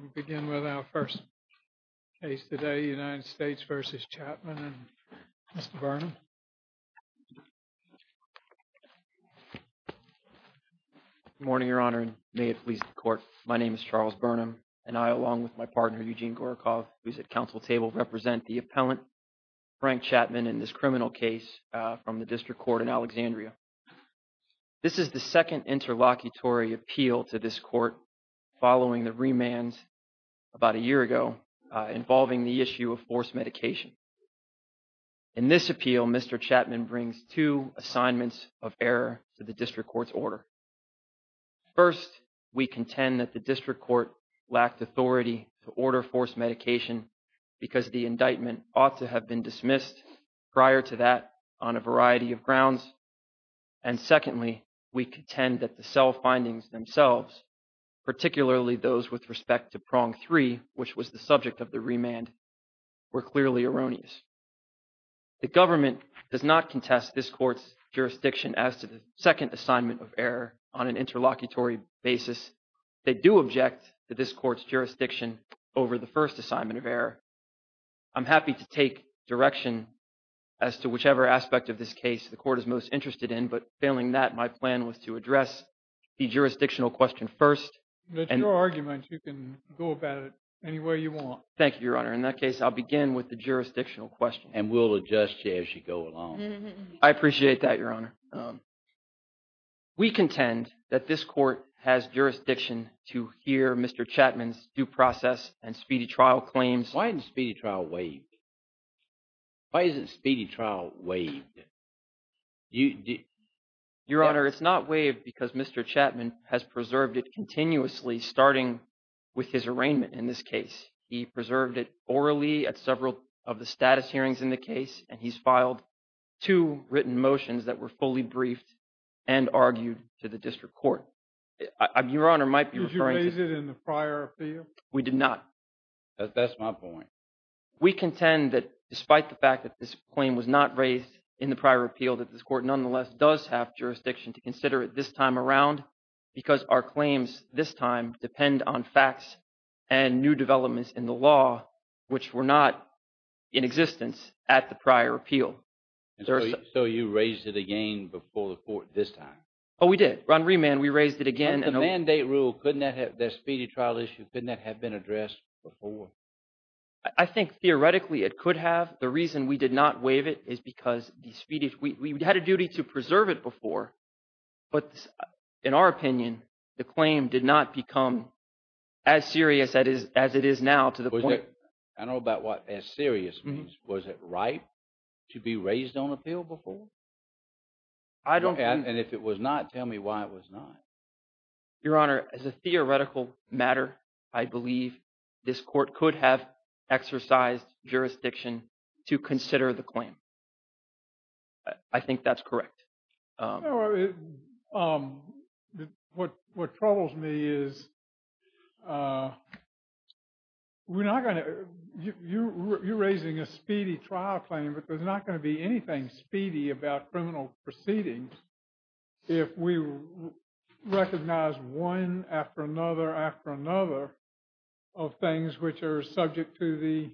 We'll begin with our first case today, United States v. Chatmon and Mr. Burnham. Good morning, Your Honor, and may it please the Court, my name is Charles Burnham, and I, along with my partner Eugene Gorokov, who is at Council Table, represent the appellant Frank Chatmon in this criminal case from the District Court in Alexandria. This is the second interlocutory appeal to this Court following the remands about a year ago involving the issue of forced medication. In this appeal, Mr. Chatmon brings two assignments of error to the District Court's order. First, we contend that the District Court lacked authority to order forced medication because the indictment ought to have been dismissed prior to that on a variety of grounds. And secondly, we contend that the cell findings themselves, particularly those with respect to Prong 3, which was the subject of the remand, were clearly erroneous. The government does not contest this Court's jurisdiction as to the second assignment of error on an interlocutory basis. They do object to this Court's jurisdiction over the first assignment of error. I'm happy to take direction as to whichever aspect of this case the Court is most interested in, but failing that, my plan was to address the jurisdictional question first. That's your argument. You can go about it any way you want. Thank you, Your Honor. In that case, I'll begin with the jurisdictional question. And we'll adjust you as you go along. I appreciate that, Your Honor. We contend that this Court has jurisdiction to hear Mr. Chapman's due process and speedy trial claims. Why isn't the speedy trial waived? Why isn't the speedy trial waived? Your Honor, it's not waived because Mr. Chapman has preserved it continuously starting with his arraignment in this case. He preserved it orally at several of the status hearings in the case, and he's filed two written motions that were fully briefed and argued to the district court. Your Honor, I might be referring to… Did you raise it in the prior appeal? We did not. That's my point. We contend that despite the fact that this claim was not raised in the prior appeal, that this Court nonetheless does have jurisdiction to consider it this time around because our claims this time depend on facts and new developments in the law, which were not in existence at the prior appeal. So you raised it again before the Court this time? Oh, we did. Ron Rehman, we raised it again. But the mandate rule, couldn't that have… that speedy trial issue, couldn't that have been addressed before? I think theoretically it could have. The reason we did not waive it is because the speedy… we had a duty to preserve it before. But in our opinion, the claim did not become as serious as it is now to the point… I don't know about what as serious means. Was it right to be raised on appeal before? I don't… And if it was not, tell me why it was not. Your Honor, as a theoretical matter, I believe this Court could have exercised jurisdiction to consider the claim. I think that's correct. What troubles me is we're not going to… you're raising a speedy trial claim, but there's not going to be anything speedy about criminal proceedings if we recognize one after another after another of things which are subject to the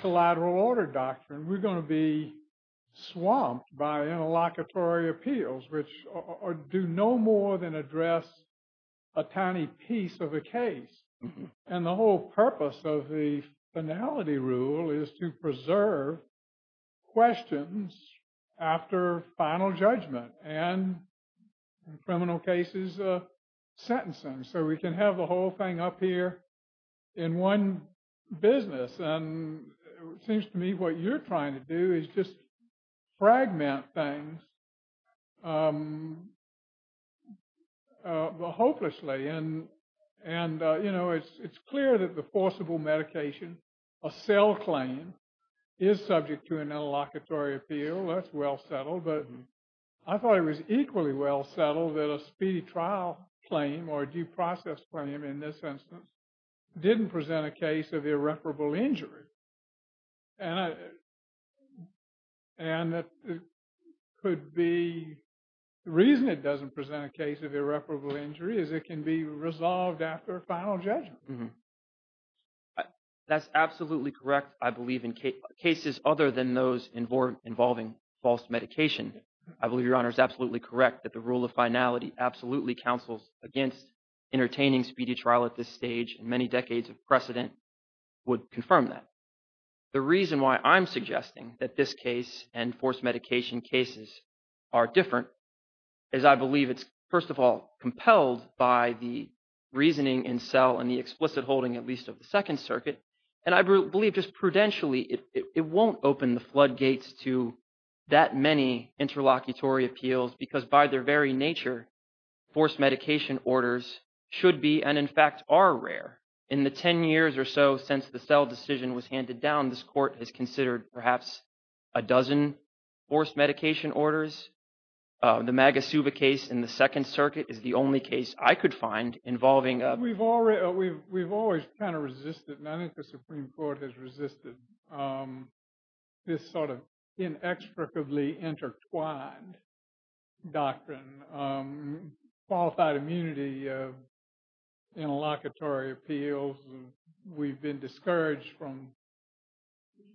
collateral order doctrine. We're going to be swamped by interlocutory appeals which do no more than address a tiny piece of a case. And the whole purpose of the finality rule is to preserve questions after final judgment and criminal cases sentencing. So we can have the whole thing up here in one business. And it seems to me what you're trying to do is just fragment things hopelessly. And, you know, it's clear that the forcible medication, a cell claim, is subject to an interlocutory appeal. That's well settled. But I thought it was equally well settled that a speedy trial claim or due process claim in this instance didn't present a case of irreparable injury. And that could be – the reason it doesn't present a case of irreparable injury is it can be resolved after a final judgment. That's absolutely correct, I believe, in cases other than those involving false medication. I believe Your Honor is absolutely correct that the rule of finality absolutely counsels against entertaining speedy trial at this stage and many decades of precedent would confirm that. The reason why I'm suggesting that this case and forced medication cases are different is I believe it's, first of all, at least of the Second Circuit, and I believe just prudentially it won't open the floodgates to that many interlocutory appeals because by their very nature, forced medication orders should be and in fact are rare. In the 10 years or so since the cell decision was handed down, this court has considered perhaps a dozen forced medication orders. The Maga Suva case in the Second Circuit is the only case I could find involving a – We've always kind of resisted, and I think the Supreme Court has resisted this sort of inexplicably intertwined doctrine. Qualified immunity of interlocutory appeals, we've been discouraged from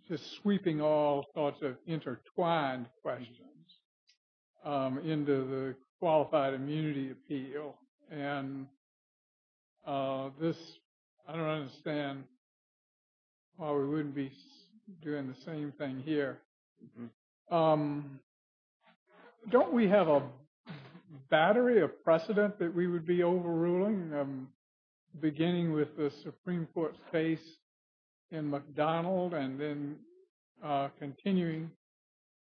just sweeping all sorts of intertwined questions into the qualified immunity appeal. And this – I don't understand why we wouldn't be doing the same thing here. Don't we have a battery of precedent that we would be overruling, beginning with the Supreme Court case in McDonald and then continuing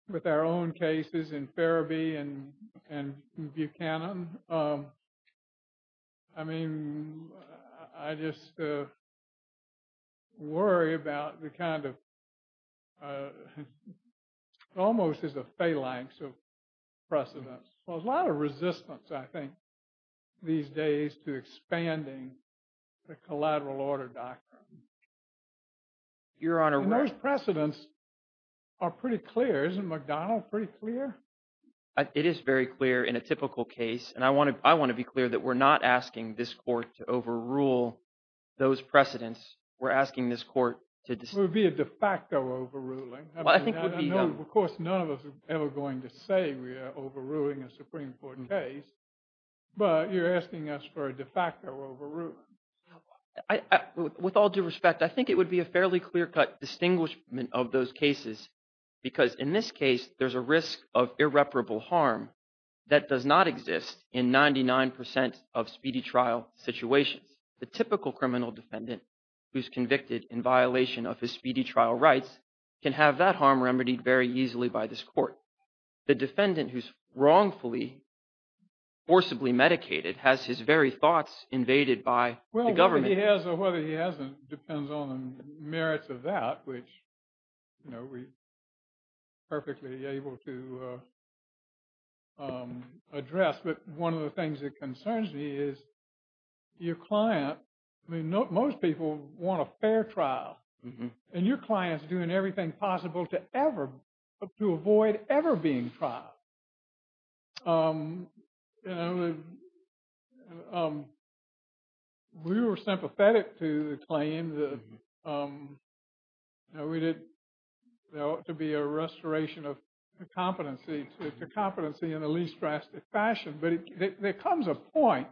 with our own cases in Farabee and Buchanan? I mean, I just worry about the kind of – almost as a phalanx of precedents. There's a lot of resistance, I think, these days to expanding the collateral order doctrine. Your Honor – And those precedents are pretty clear. Isn't McDonald pretty clear? It is very clear in a typical case, and I want to be clear that we're not asking this court to overrule those precedents. We're asking this court to – It would be a de facto overruling. I think it would be – Of course, none of us are ever going to say we are overruling a Supreme Court case, but you're asking us for a de facto overruling. With all due respect, I think it would be a fairly clear-cut distinguishment of those cases because in this case, there's a risk of irreparable harm that does not exist in 99 percent of speedy trial situations. The typical criminal defendant who's convicted in violation of his speedy trial rights can have that harm remedied very easily by this court. The defendant who's wrongfully, forcibly medicated has his very thoughts invaded by the government. Well, whether he has or whether he hasn't depends on the merits of that, which we're perfectly able to address. But one of the things that concerns me is your client – I mean, most people want a fair trial. And your client is doing everything possible to ever – to avoid ever being trialed. We were sympathetic to the claim that there ought to be a restoration of competency to competency in the least drastic fashion. But there comes a point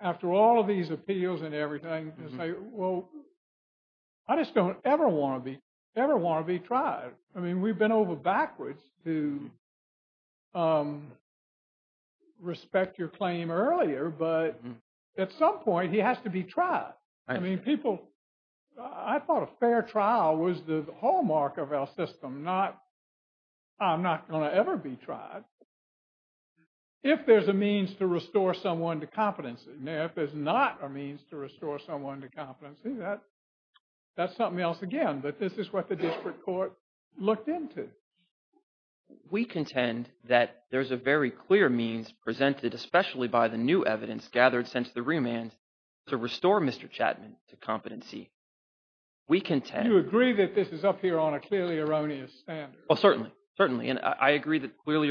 after all of these appeals and everything, it's like, well, I just don't ever want to be – ever want to be tried. I mean, we've been over backwards to respect your claim earlier. But at some point, he has to be tried. I mean, people – I thought a fair trial was the hallmark of our system, not I'm not going to ever be tried. If there's a means to restore someone to competency, if there's not a means to restore someone to competency, that's something else again. But this is what the district court looked into. We contend that there's a very clear means presented, especially by the new evidence gathered since the remand to restore Mr. Chapman to competency. We contend – You agree that this is up here on a clearly erroneous standard. Well, certainly. Certainly. And I agree that clearly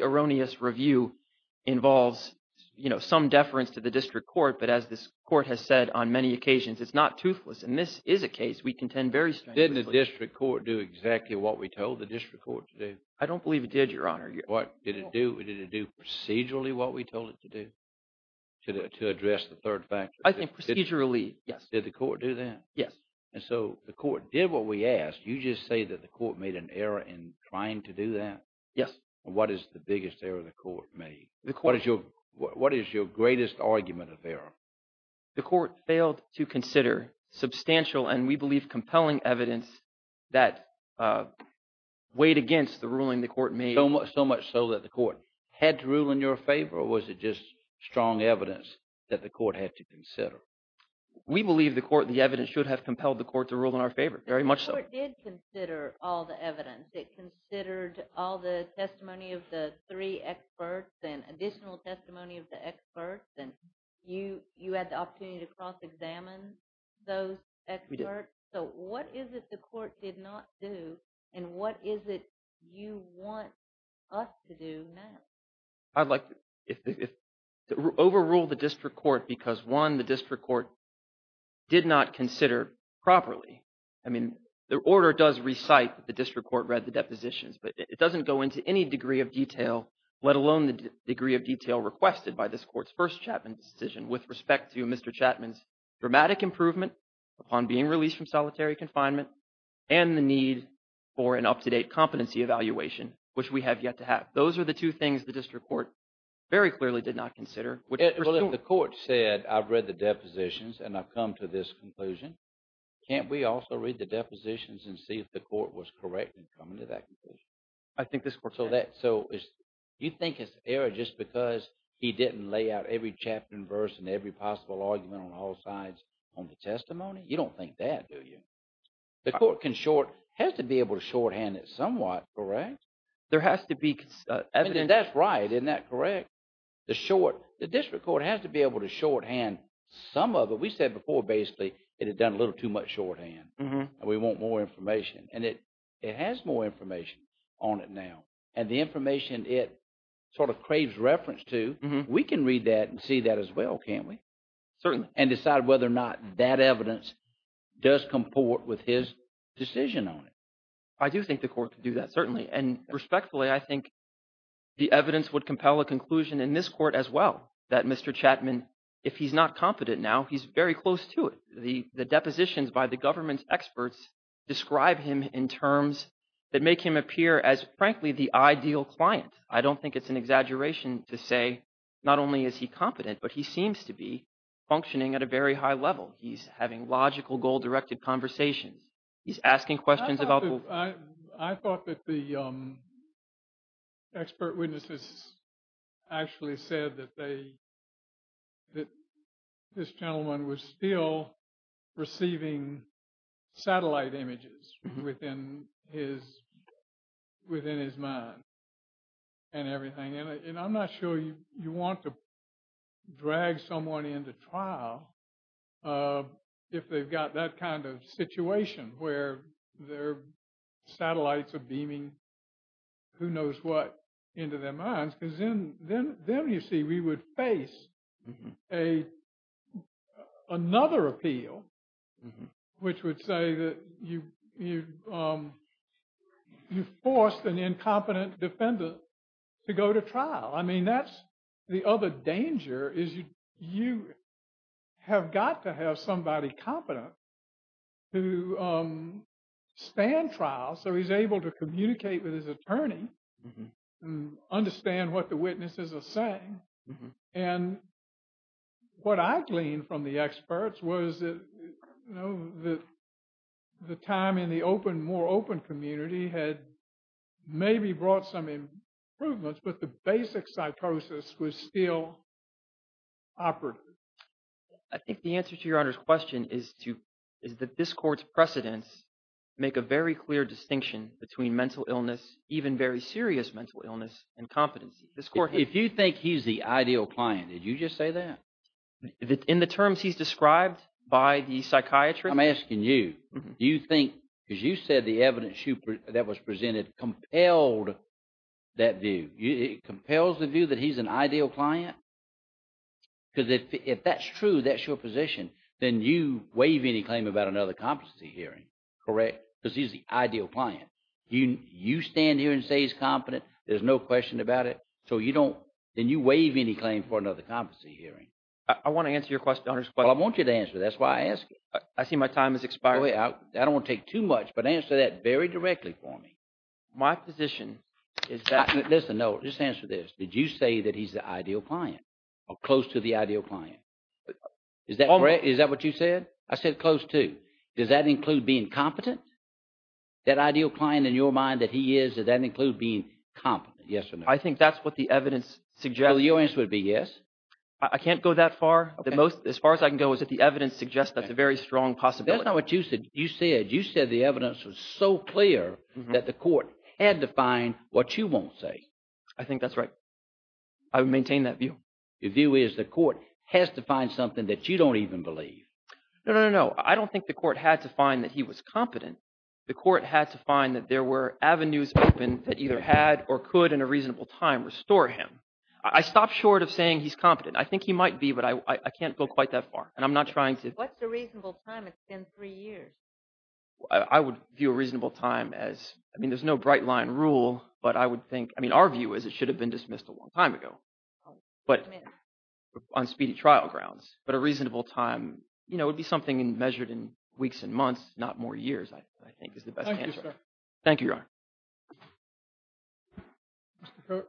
erroneous review involves some deference to the district court. But as this court has said on many occasions, it's not toothless. And this is a case we contend very strictly. Didn't the district court do exactly what we told the district court to do? I don't believe it did, Your Honor. What did it do? Did it do procedurally what we told it to do to address the third factor? I think procedurally, yes. Did the court do that? Yes. And so the court did what we asked. You just say that the court made an error in trying to do that? Yes. The court – What is your greatest argument of error? The court failed to consider substantial and we believe compelling evidence that weighed against the ruling the court made. So much so that the court had to rule in your favor, or was it just strong evidence that the court had to consider? We believe the court – the evidence should have compelled the court to rule in our favor, very much so. The court did consider all the evidence. It considered all the testimony of the three experts and additional testimony of the experts, and you had the opportunity to cross-examine those experts. We did. So what is it the court did not do, and what is it you want us to do now? I'd like to overrule the district court because, one, the district court did not consider properly. I mean, the order does recite that the district court read the depositions, but it doesn't go into any degree of detail, let alone the degree of detail requested by this court's first Chapman decision with respect to Mr. Chapman's dramatic improvement upon being released from solitary confinement and the need for an up-to-date competency evaluation, which we have yet to have. Those are the two things the district court very clearly did not consider. Well, if the court said I've read the depositions and I've come to this conclusion, can't we also read the depositions and see if the court was correct in coming to that conclusion? I think this court can. So that – so you think it's error just because he didn't lay out every chapter and verse and every possible argument on all sides on the testimony? You don't think that, do you? The court can short – has to be able to shorthand it somewhat, correct? There has to be evidence. That's right. Isn't that correct? The short – the district court has to be able to shorthand some of it. We said before, basically, it had done a little too much shorthand and we want more information. And it has more information on it now. And the information it sort of craves reference to, we can read that and see that as well, can't we? Certainly. And decide whether or not that evidence does comport with his decision on it. I do think the court could do that, certainly. And respectfully, I think the evidence would compel a conclusion in this court as well that Mr. Chapman, if he's not competent now, he's very close to it. The depositions by the government's experts describe him in terms that make him appear as, frankly, the ideal client. I don't think it's an exaggeration to say not only is he competent, but he seems to be functioning at a very high level. He's having logical goal-directed conversations. He's asking questions about – I thought that the expert witnesses actually said that they – that this gentleman was still receiving satellite images within his mind and everything. And I'm not sure you want to drag someone into trial if they've got that kind of situation where their satellites are beaming who knows what into their minds. Because then you see, we would face another appeal, which would say that you forced an incompetent defendant to go to trial. I mean, that's the other danger is you have got to have somebody competent to stand trial so he's able to communicate with his attorney and understand what the witnesses are saying. And what I gleaned from the experts was that the time in the open – more open community had maybe brought some improvements, but the basic cytosis was still operative. I think the answer to Your Honor's question is to – is that this court's precedents make a very clear distinction between mental illness, even very serious mental illness, and competency. If you think he's the ideal client, did you just say that? In the terms he's described by the psychiatrist? I'm asking you. Do you think – because you said the evidence that was presented compelled that view. It compels the view that he's an ideal client? Because if that's true, that's your position, then you waive any claim about another competency hearing, correct? Because he's the ideal client. You stand here and say he's competent. There's no question about it. So you don't – then you waive any claim for another competency hearing. I want to answer Your Honor's question. Well, I want you to answer it. That's why I asked you. I see my time has expired. I don't want to take too much, but answer that very directly for me. My position is that – Listen, no, just answer this. Did you say that he's the ideal client or close to the ideal client? Is that correct? Is that what you said? I said close to. Does that include being competent? That ideal client in your mind that he is, does that include being competent? Yes or no? I think that's what the evidence suggests. Well, your answer would be yes. I can't go that far. The most – as far as I can go is that the evidence suggests that's a very strong possibility. That's not what you said. You said the evidence was so clear that the court had to find what you won't say. I think that's right. I would maintain that view. Your view is the court has to find something that you don't even believe. No, no, no, no. I don't think the court had to find that he was competent. The court had to find that there were avenues open that either had or could in a reasonable time restore him. I stopped short of saying he's competent. I think he might be, but I can't go quite that far, and I'm not trying to – What's a reasonable time? It's been three years. I would view a reasonable time as – I mean there's no bright line rule, but I would think – I mean our view is it should have been dismissed a long time ago on speedy trial grounds. But a reasonable time would be something measured in weeks and months, not more years I think is the best answer. Thank you, sir. Thank you, Your Honor. Mr. Coat.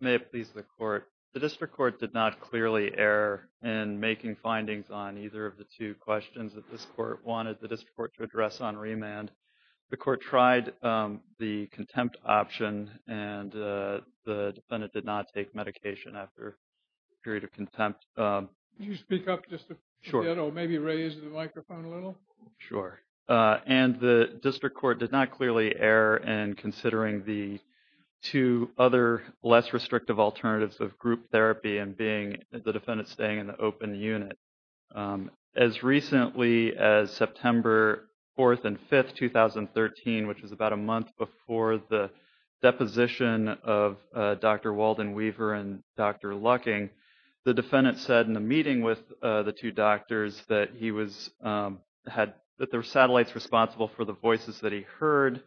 May it please the Court. The district court did not clearly err in making findings on either of the two questions that this court wanted the district court to address on remand. The court tried the contempt option, and the defendant did not take medication after a period of contempt. Could you speak up just a little bit or maybe raise the microphone a little? Sure. And the district court did not clearly err in considering the two other less restrictive alternatives of group therapy and being the defendant staying in the open unit. As recently as September 4th and 5th, 2013, which was about a month before the deposition of Dr. Walden Weaver and Dr. Lucking, the defendant said in a meeting with the two doctors that he was – that there were satellites responsible for the voices that he heard,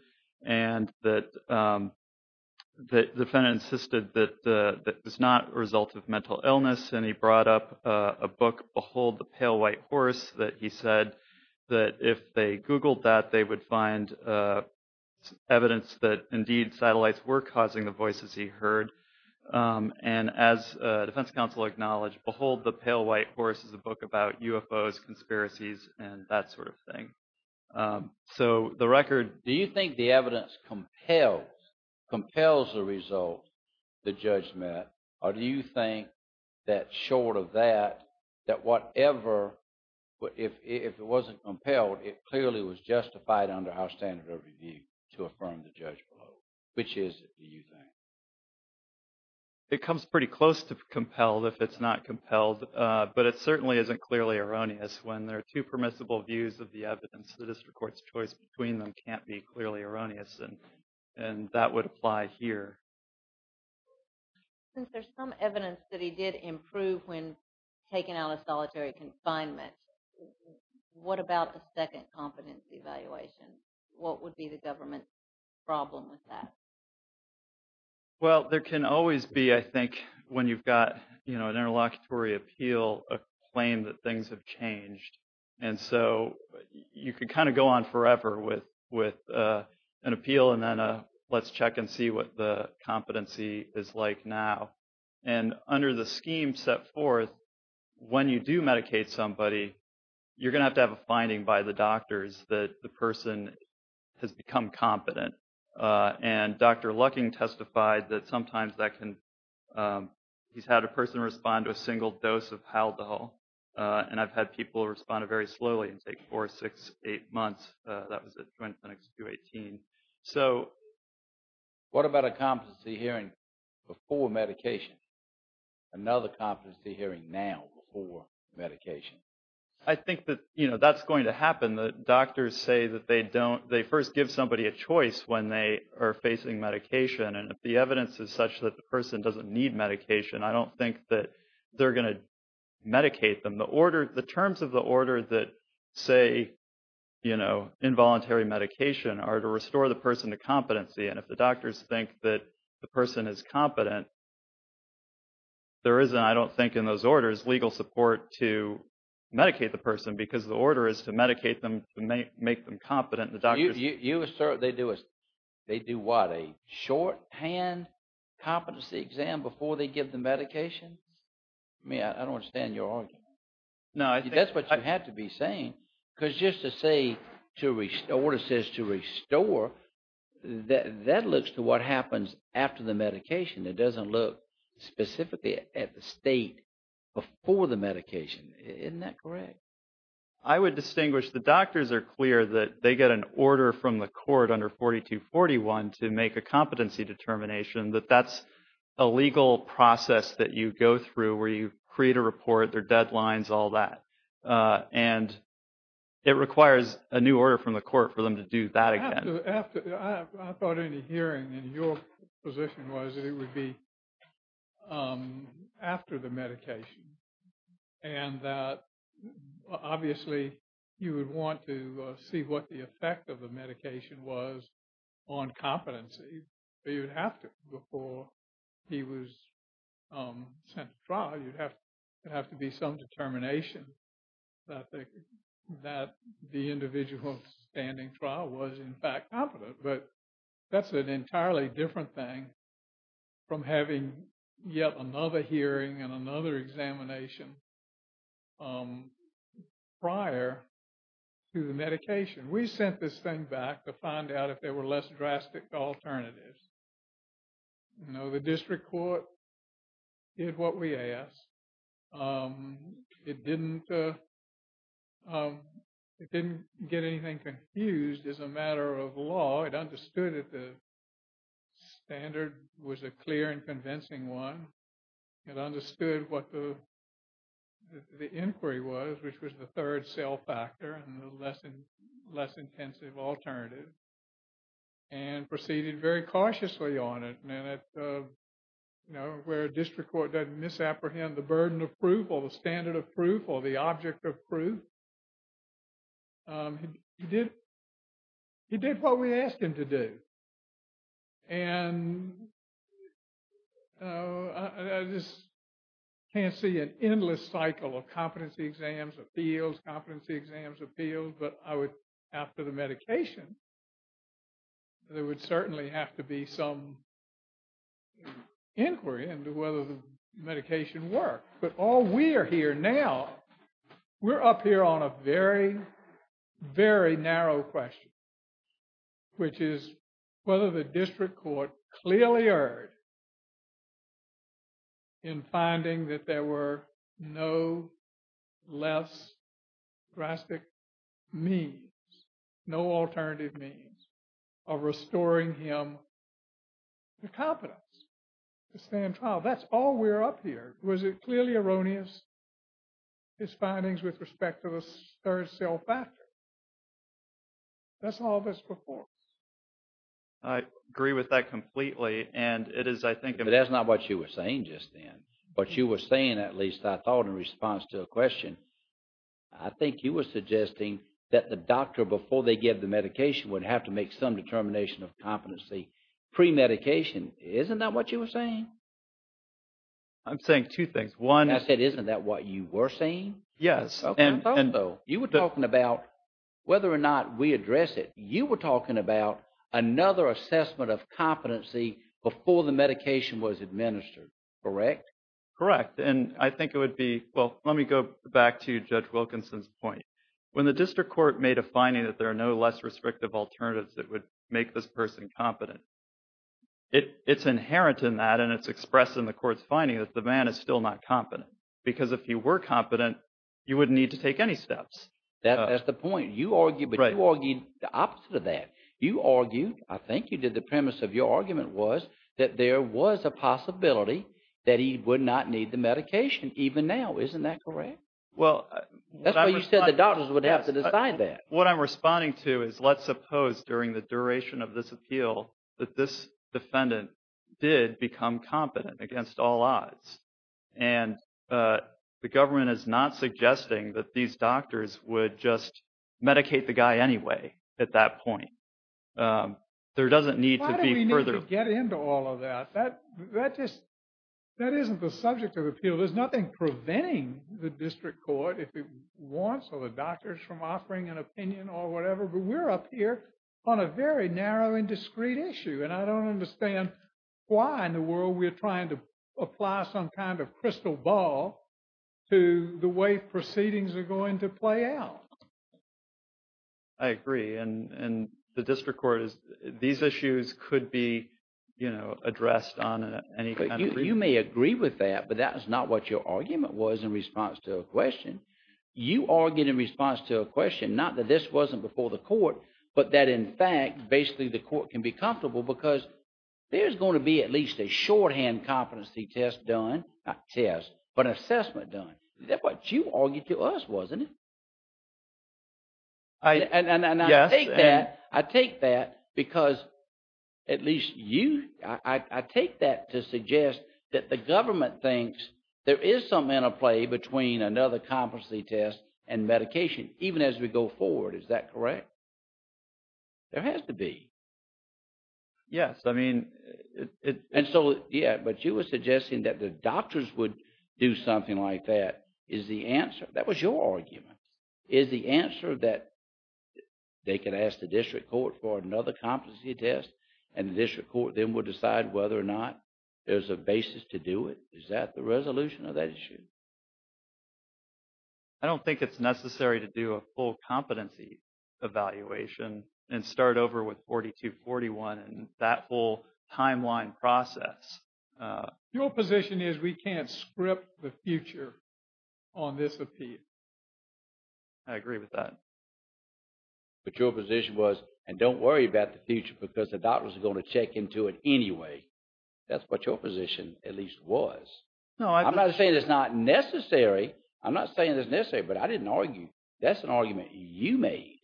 and that the defendant insisted that it was not a result of mental illness, and he brought up a book, Behold the Pale White Horse, that he said that if they Googled that, they would find evidence that indeed satellites were causing the voices he heard. And as defense counsel acknowledged, Behold the Pale White Horse is a book about UFOs, conspiracies, and that sort of thing. So the record – Do you think the evidence compels the result the judge met, or do you think that short of that, that whatever – if it wasn't compelled, it clearly was justified under our standard of review to affirm the judge below? Which is it, do you think? It comes pretty close to compelled if it's not compelled, but it certainly isn't clearly erroneous. When there are two permissible views of the evidence, the district court's choice between them can't be clearly erroneous, and that would apply here. Since there's some evidence that he did improve when taken out of solitary confinement, what about the second competence evaluation? What would be the government's problem with that? Well, there can always be, I think, when you've got an interlocutory appeal, a claim that things have changed. And so you could kind of go on forever with an appeal and then a let's check and see what the competency is like now. And under the scheme set forth, when you do medicate somebody, you're going to have to have a finding by the doctors that the person has become competent. And Dr. Lucking testified that sometimes that can – he's had a person respond to a single dose of haldol, and I've had people respond very slowly and take four, six, eight months. That was at Joint Clinics 2018. So what about a competency hearing before medication? Another competency hearing now before medication? I think that that's going to happen. The doctors say that they first give somebody a choice when they are facing medication, and if the evidence is such that the person doesn't need medication, I don't think that they're going to medicate them. The terms of the order that say involuntary medication are to restore the person to competency. And if the doctors think that the person is competent, there is, I don't think in those orders, legal support to medicate the person, because the order is to medicate them, to make them competent. You assert they do what, a shorthand competency exam before they give the medication? I mean, I don't understand your argument. That's what you have to be saying. Because just to say to restore, it says to restore, that looks to what happens after the medication. It doesn't look specifically at the state before the medication. Isn't that correct? I would distinguish the doctors are clear that they get an order from the court under 4241 to make a competency determination that that's a legal process that you go through where you create a report, their deadlines, all that. And it requires a new order from the court for them to do that again. So after I thought in the hearing and your position was that it would be after the medication. And that, obviously, you would want to see what the effect of the medication was on competency. But you'd have to before he was sent to trial, you'd have to have to be some determination that the individual standing trial was in fact competent. But that's an entirely different thing from having yet another hearing and another examination prior to the medication. We sent this thing back to find out if there were less drastic alternatives. No, the district court did what we asked. It didn't get anything confused as a matter of law. It understood that the standard was a clear and convincing one. It understood what the inquiry was, which was the third cell factor and the less and less intensive alternative. And proceeded very cautiously on it. Now, where district court doesn't misapprehend the burden of proof or the standard of proof or the object of proof. He did what we asked him to do. And I just can't see an endless cycle of competency exams, appeals, competency exams, appeals. But I would, after the medication, there would certainly have to be some inquiry into whether the medication worked. But all we are here now, we're up here on a very, very narrow question, which is whether the district court clearly erred in finding that there were no less drastic means, no alternative means of restoring him the competence to stand trial. Now, that's all we're up here. Was it clearly erroneous? His findings with respect to the third cell factor. That's all this before. I agree with that completely. And it is, I think. But that's not what you were saying just then. But you were saying, at least I thought in response to a question, I think you were suggesting that the doctor before they get the medication would have to make some determination of competency premedication. Isn't that what you were saying? I'm saying two things. One. I said, isn't that what you were saying? Yes. You were talking about whether or not we address it. You were talking about another assessment of competency before the medication was administered, correct? Correct. And I think it would be, well, let me go back to Judge Wilkinson's point. When the district court made a finding that there are no less restrictive alternatives that would make this person competent. It's inherent in that and it's expressed in the court's finding that the man is still not competent. Because if you were competent, you wouldn't need to take any steps. That's the point. You argued, but you argued the opposite of that. You argued, I think you did, the premise of your argument was that there was a possibility that he would not need the medication even now. Isn't that correct? Well, what I'm responding to is, let's suppose during the duration of this appeal, that this defendant did become competent against all odds. And the government is not suggesting that these doctors would just medicate the guy anyway at that point. There doesn't need to be further. Why do we need to get into all of that? That just, that isn't the subject of appeal. There's nothing preventing the district court if it wants or the doctors from offering an opinion or whatever. But we're up here on a very narrow and discrete issue. And I don't understand why in the world we're trying to apply some kind of crystal ball to the way proceedings are going to play out. I agree. And the district court is, these issues could be, you know, addressed on any kind of… You may agree with that, but that is not what your argument was in response to a question. You argued in response to a question, not that this wasn't before the court, but that in fact, basically the court can be comfortable because there's going to be at least a shorthand competency test done, not test, but assessment done. That's what you argued to us, wasn't it? Yes. I take that, I take that because at least you, I take that to suggest that the government thinks there is something in a play between another competency test and medication, even as we go forward. Is that correct? There has to be. Yes, I mean… And so, yeah, but you were suggesting that the doctors would do something like that. Is the answer, that was your argument. Is the answer that they can ask the district court for another competency test and the district court then would decide whether or not there's a basis to do it? Is that the resolution of that issue? I don't think it's necessary to do a full competency evaluation and start over with 4241 and that whole timeline process. Your position is we can't script the future on this appeal. I agree with that. But your position was, and don't worry about the future because the doctors are going to check into it anyway. That's what your position at least was. No, I… I'm not saying it's not necessary. I'm not saying it's necessary, but I didn't argue. That's an argument you made.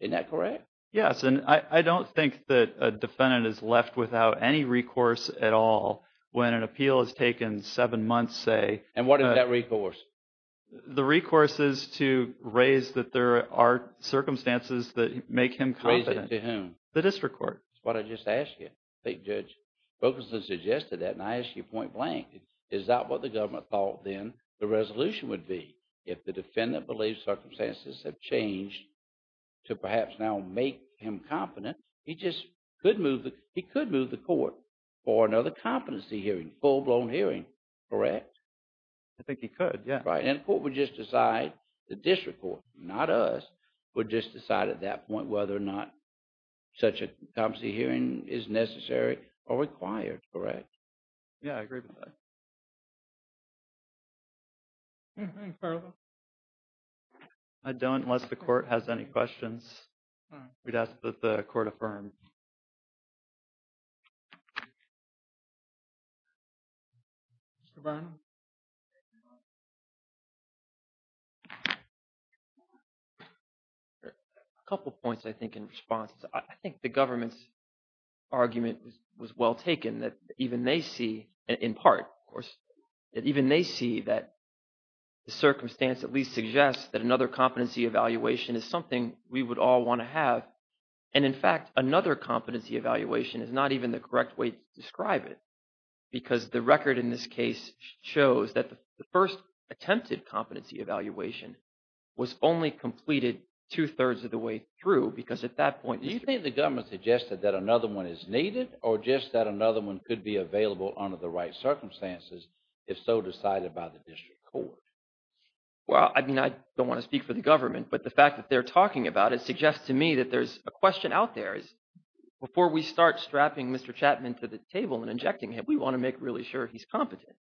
Isn't that correct? Yes, and I don't think that a defendant is left without any recourse at all when an appeal has taken seven months, say… And what is that recourse? The recourse is to raise that there are circumstances that make him confident. Raise it to whom? The district court. That's what I just asked you. I think Judge Fulkerson suggested that and I asked you point blank. Is that what the government thought then the resolution would be? If the defendant believes circumstances have changed to perhaps now make him confident, he just could move the court for another competency hearing, full-blown hearing, correct? I think he could, yes. Right, and the court would just decide, the district court, not us, would just decide at that point whether or not such a competency hearing is necessary or required, correct? Yeah, I agree with that. I don't, unless the court has any questions. We'd ask that the court affirm. Mr. Bynum? A couple points, I think, in response. I think the government's argument was well taken that even they see, in part, of course, that even they see that the circumstance at least suggests that another competency evaluation is something we would all want to have. And in fact, another competency evaluation is not even the correct way to describe it because the record in this case shows that the first attempted competency evaluation was only completed two-thirds of the way through because at that point… Do you think the government suggested that another one is needed or just that another one could be available under the right circumstances if so decided by the district court? Well, I mean, I don't want to speak for the government, but the fact that they're talking about it suggests to me that there's a question out there is before we start strapping Mr. Chapman to the table and injecting him, we want to make really sure he's competent,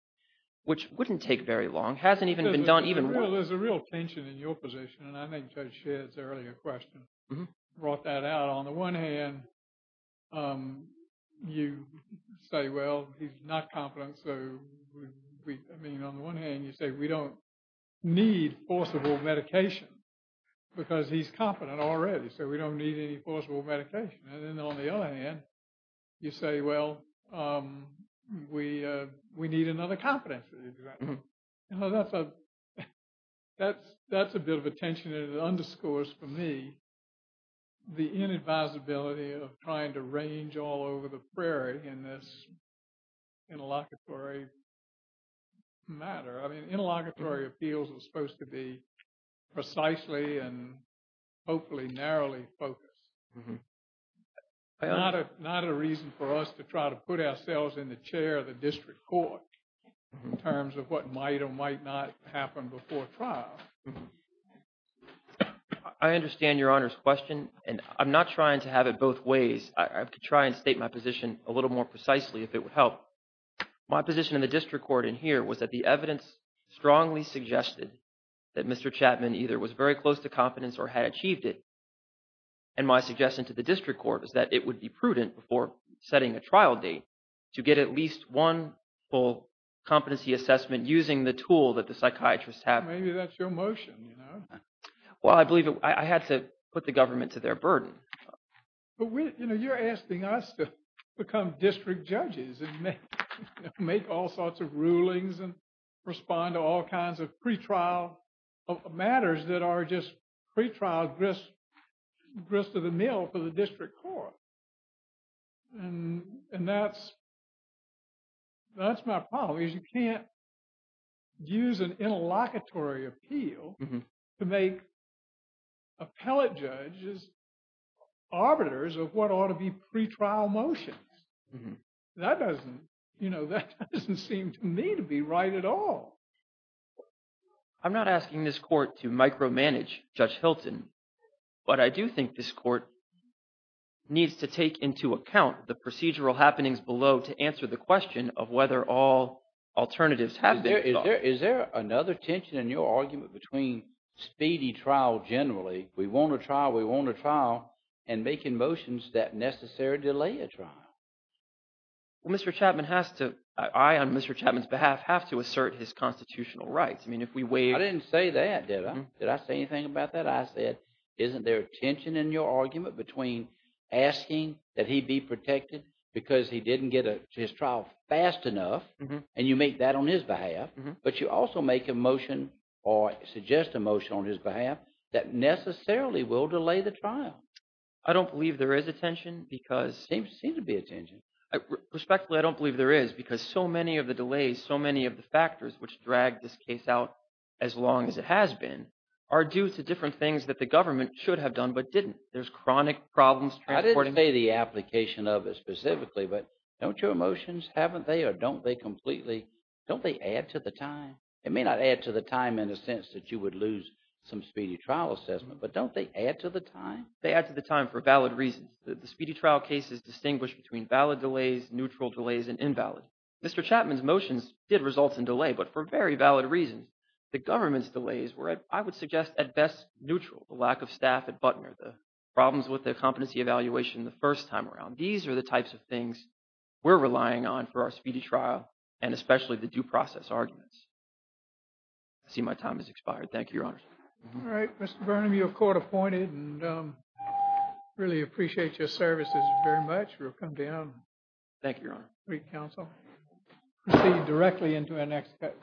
which wouldn't take very long, hasn't even been done even… We don't need forcible medication because he's competent already. So we don't need any forcible medication. And then on the other hand, you say, well, we need another competency. That's a bit of a tension that underscores for me the inadvisability of trying to range all over the prairie in this interlocutory matter. I mean, interlocutory appeals are supposed to be precisely and hopefully narrowly focused. Not a reason for us to try to put ourselves in the chair of the district court in terms of what might or might not happen before trial. I understand Your Honor's question, and I'm not trying to have it both ways. I could try and state my position a little more precisely if it would help. My position in the district court in here was that the evidence strongly suggested that Mr. Chapman either was very close to competence or had achieved it. And my suggestion to the district court is that it would be prudent before setting a trial date to get at least one full competency assessment using the tool that the psychiatrists have. Maybe that's your motion. Well, I believe I had to put the government to their burden. But you're asking us to become district judges and make all sorts of rulings and respond to all kinds of pretrial matters that are just pretrial grist of the mill for the district court. And that's my problem, is you can't use an interlocutory appeal to make appellate judges arbiters of what ought to be pretrial motions. That doesn't seem to me to be right at all. I'm not asking this court to micromanage Judge Hilton, but I do think this court needs to take into account the procedural happenings below to answer the question of whether all alternatives have been sought. Is there another tension in your argument between speedy trial generally, we want a trial, we want a trial, and making motions that necessarily delay a trial? Well, Mr. Chapman has to – I, on Mr. Chapman's behalf, have to assert his constitutional rights. I mean, if we wait – I didn't say that, did I? Did I say anything about that? I said, isn't there a tension in your argument between asking that he be protected because he didn't get to his trial fast enough, and you make that on his behalf? But you also make a motion or suggest a motion on his behalf that necessarily will delay the trial. I don't believe there is a tension because – There seems to be a tension. Respectfully, I don't believe there is because so many of the delays, so many of the factors which drag this case out as long as it has been are due to different things that the government should have done but didn't. There's chronic problems transporting – I didn't say the application of it specifically, but don't your motions, haven't they, or don't they completely – don't they add to the time? It may not add to the time in the sense that you would lose some speedy trial assessment, but don't they add to the time? They add to the time for valid reasons. The speedy trial cases distinguish between valid delays, neutral delays, and invalid. Mr. Chapman's motions did result in delay, but for very valid reasons. The government's delays were, I would suggest, at best neutral. The lack of staff at Butner, the problems with the competency evaluation the first time around. These are the types of things we're relying on for our speedy trial and especially the due process arguments. All right, Mr. Burnham, you're court appointed and really appreciate your services very much. We'll come down. Thank you, Your Honor. Thank you, counsel. We'll proceed directly into our next case.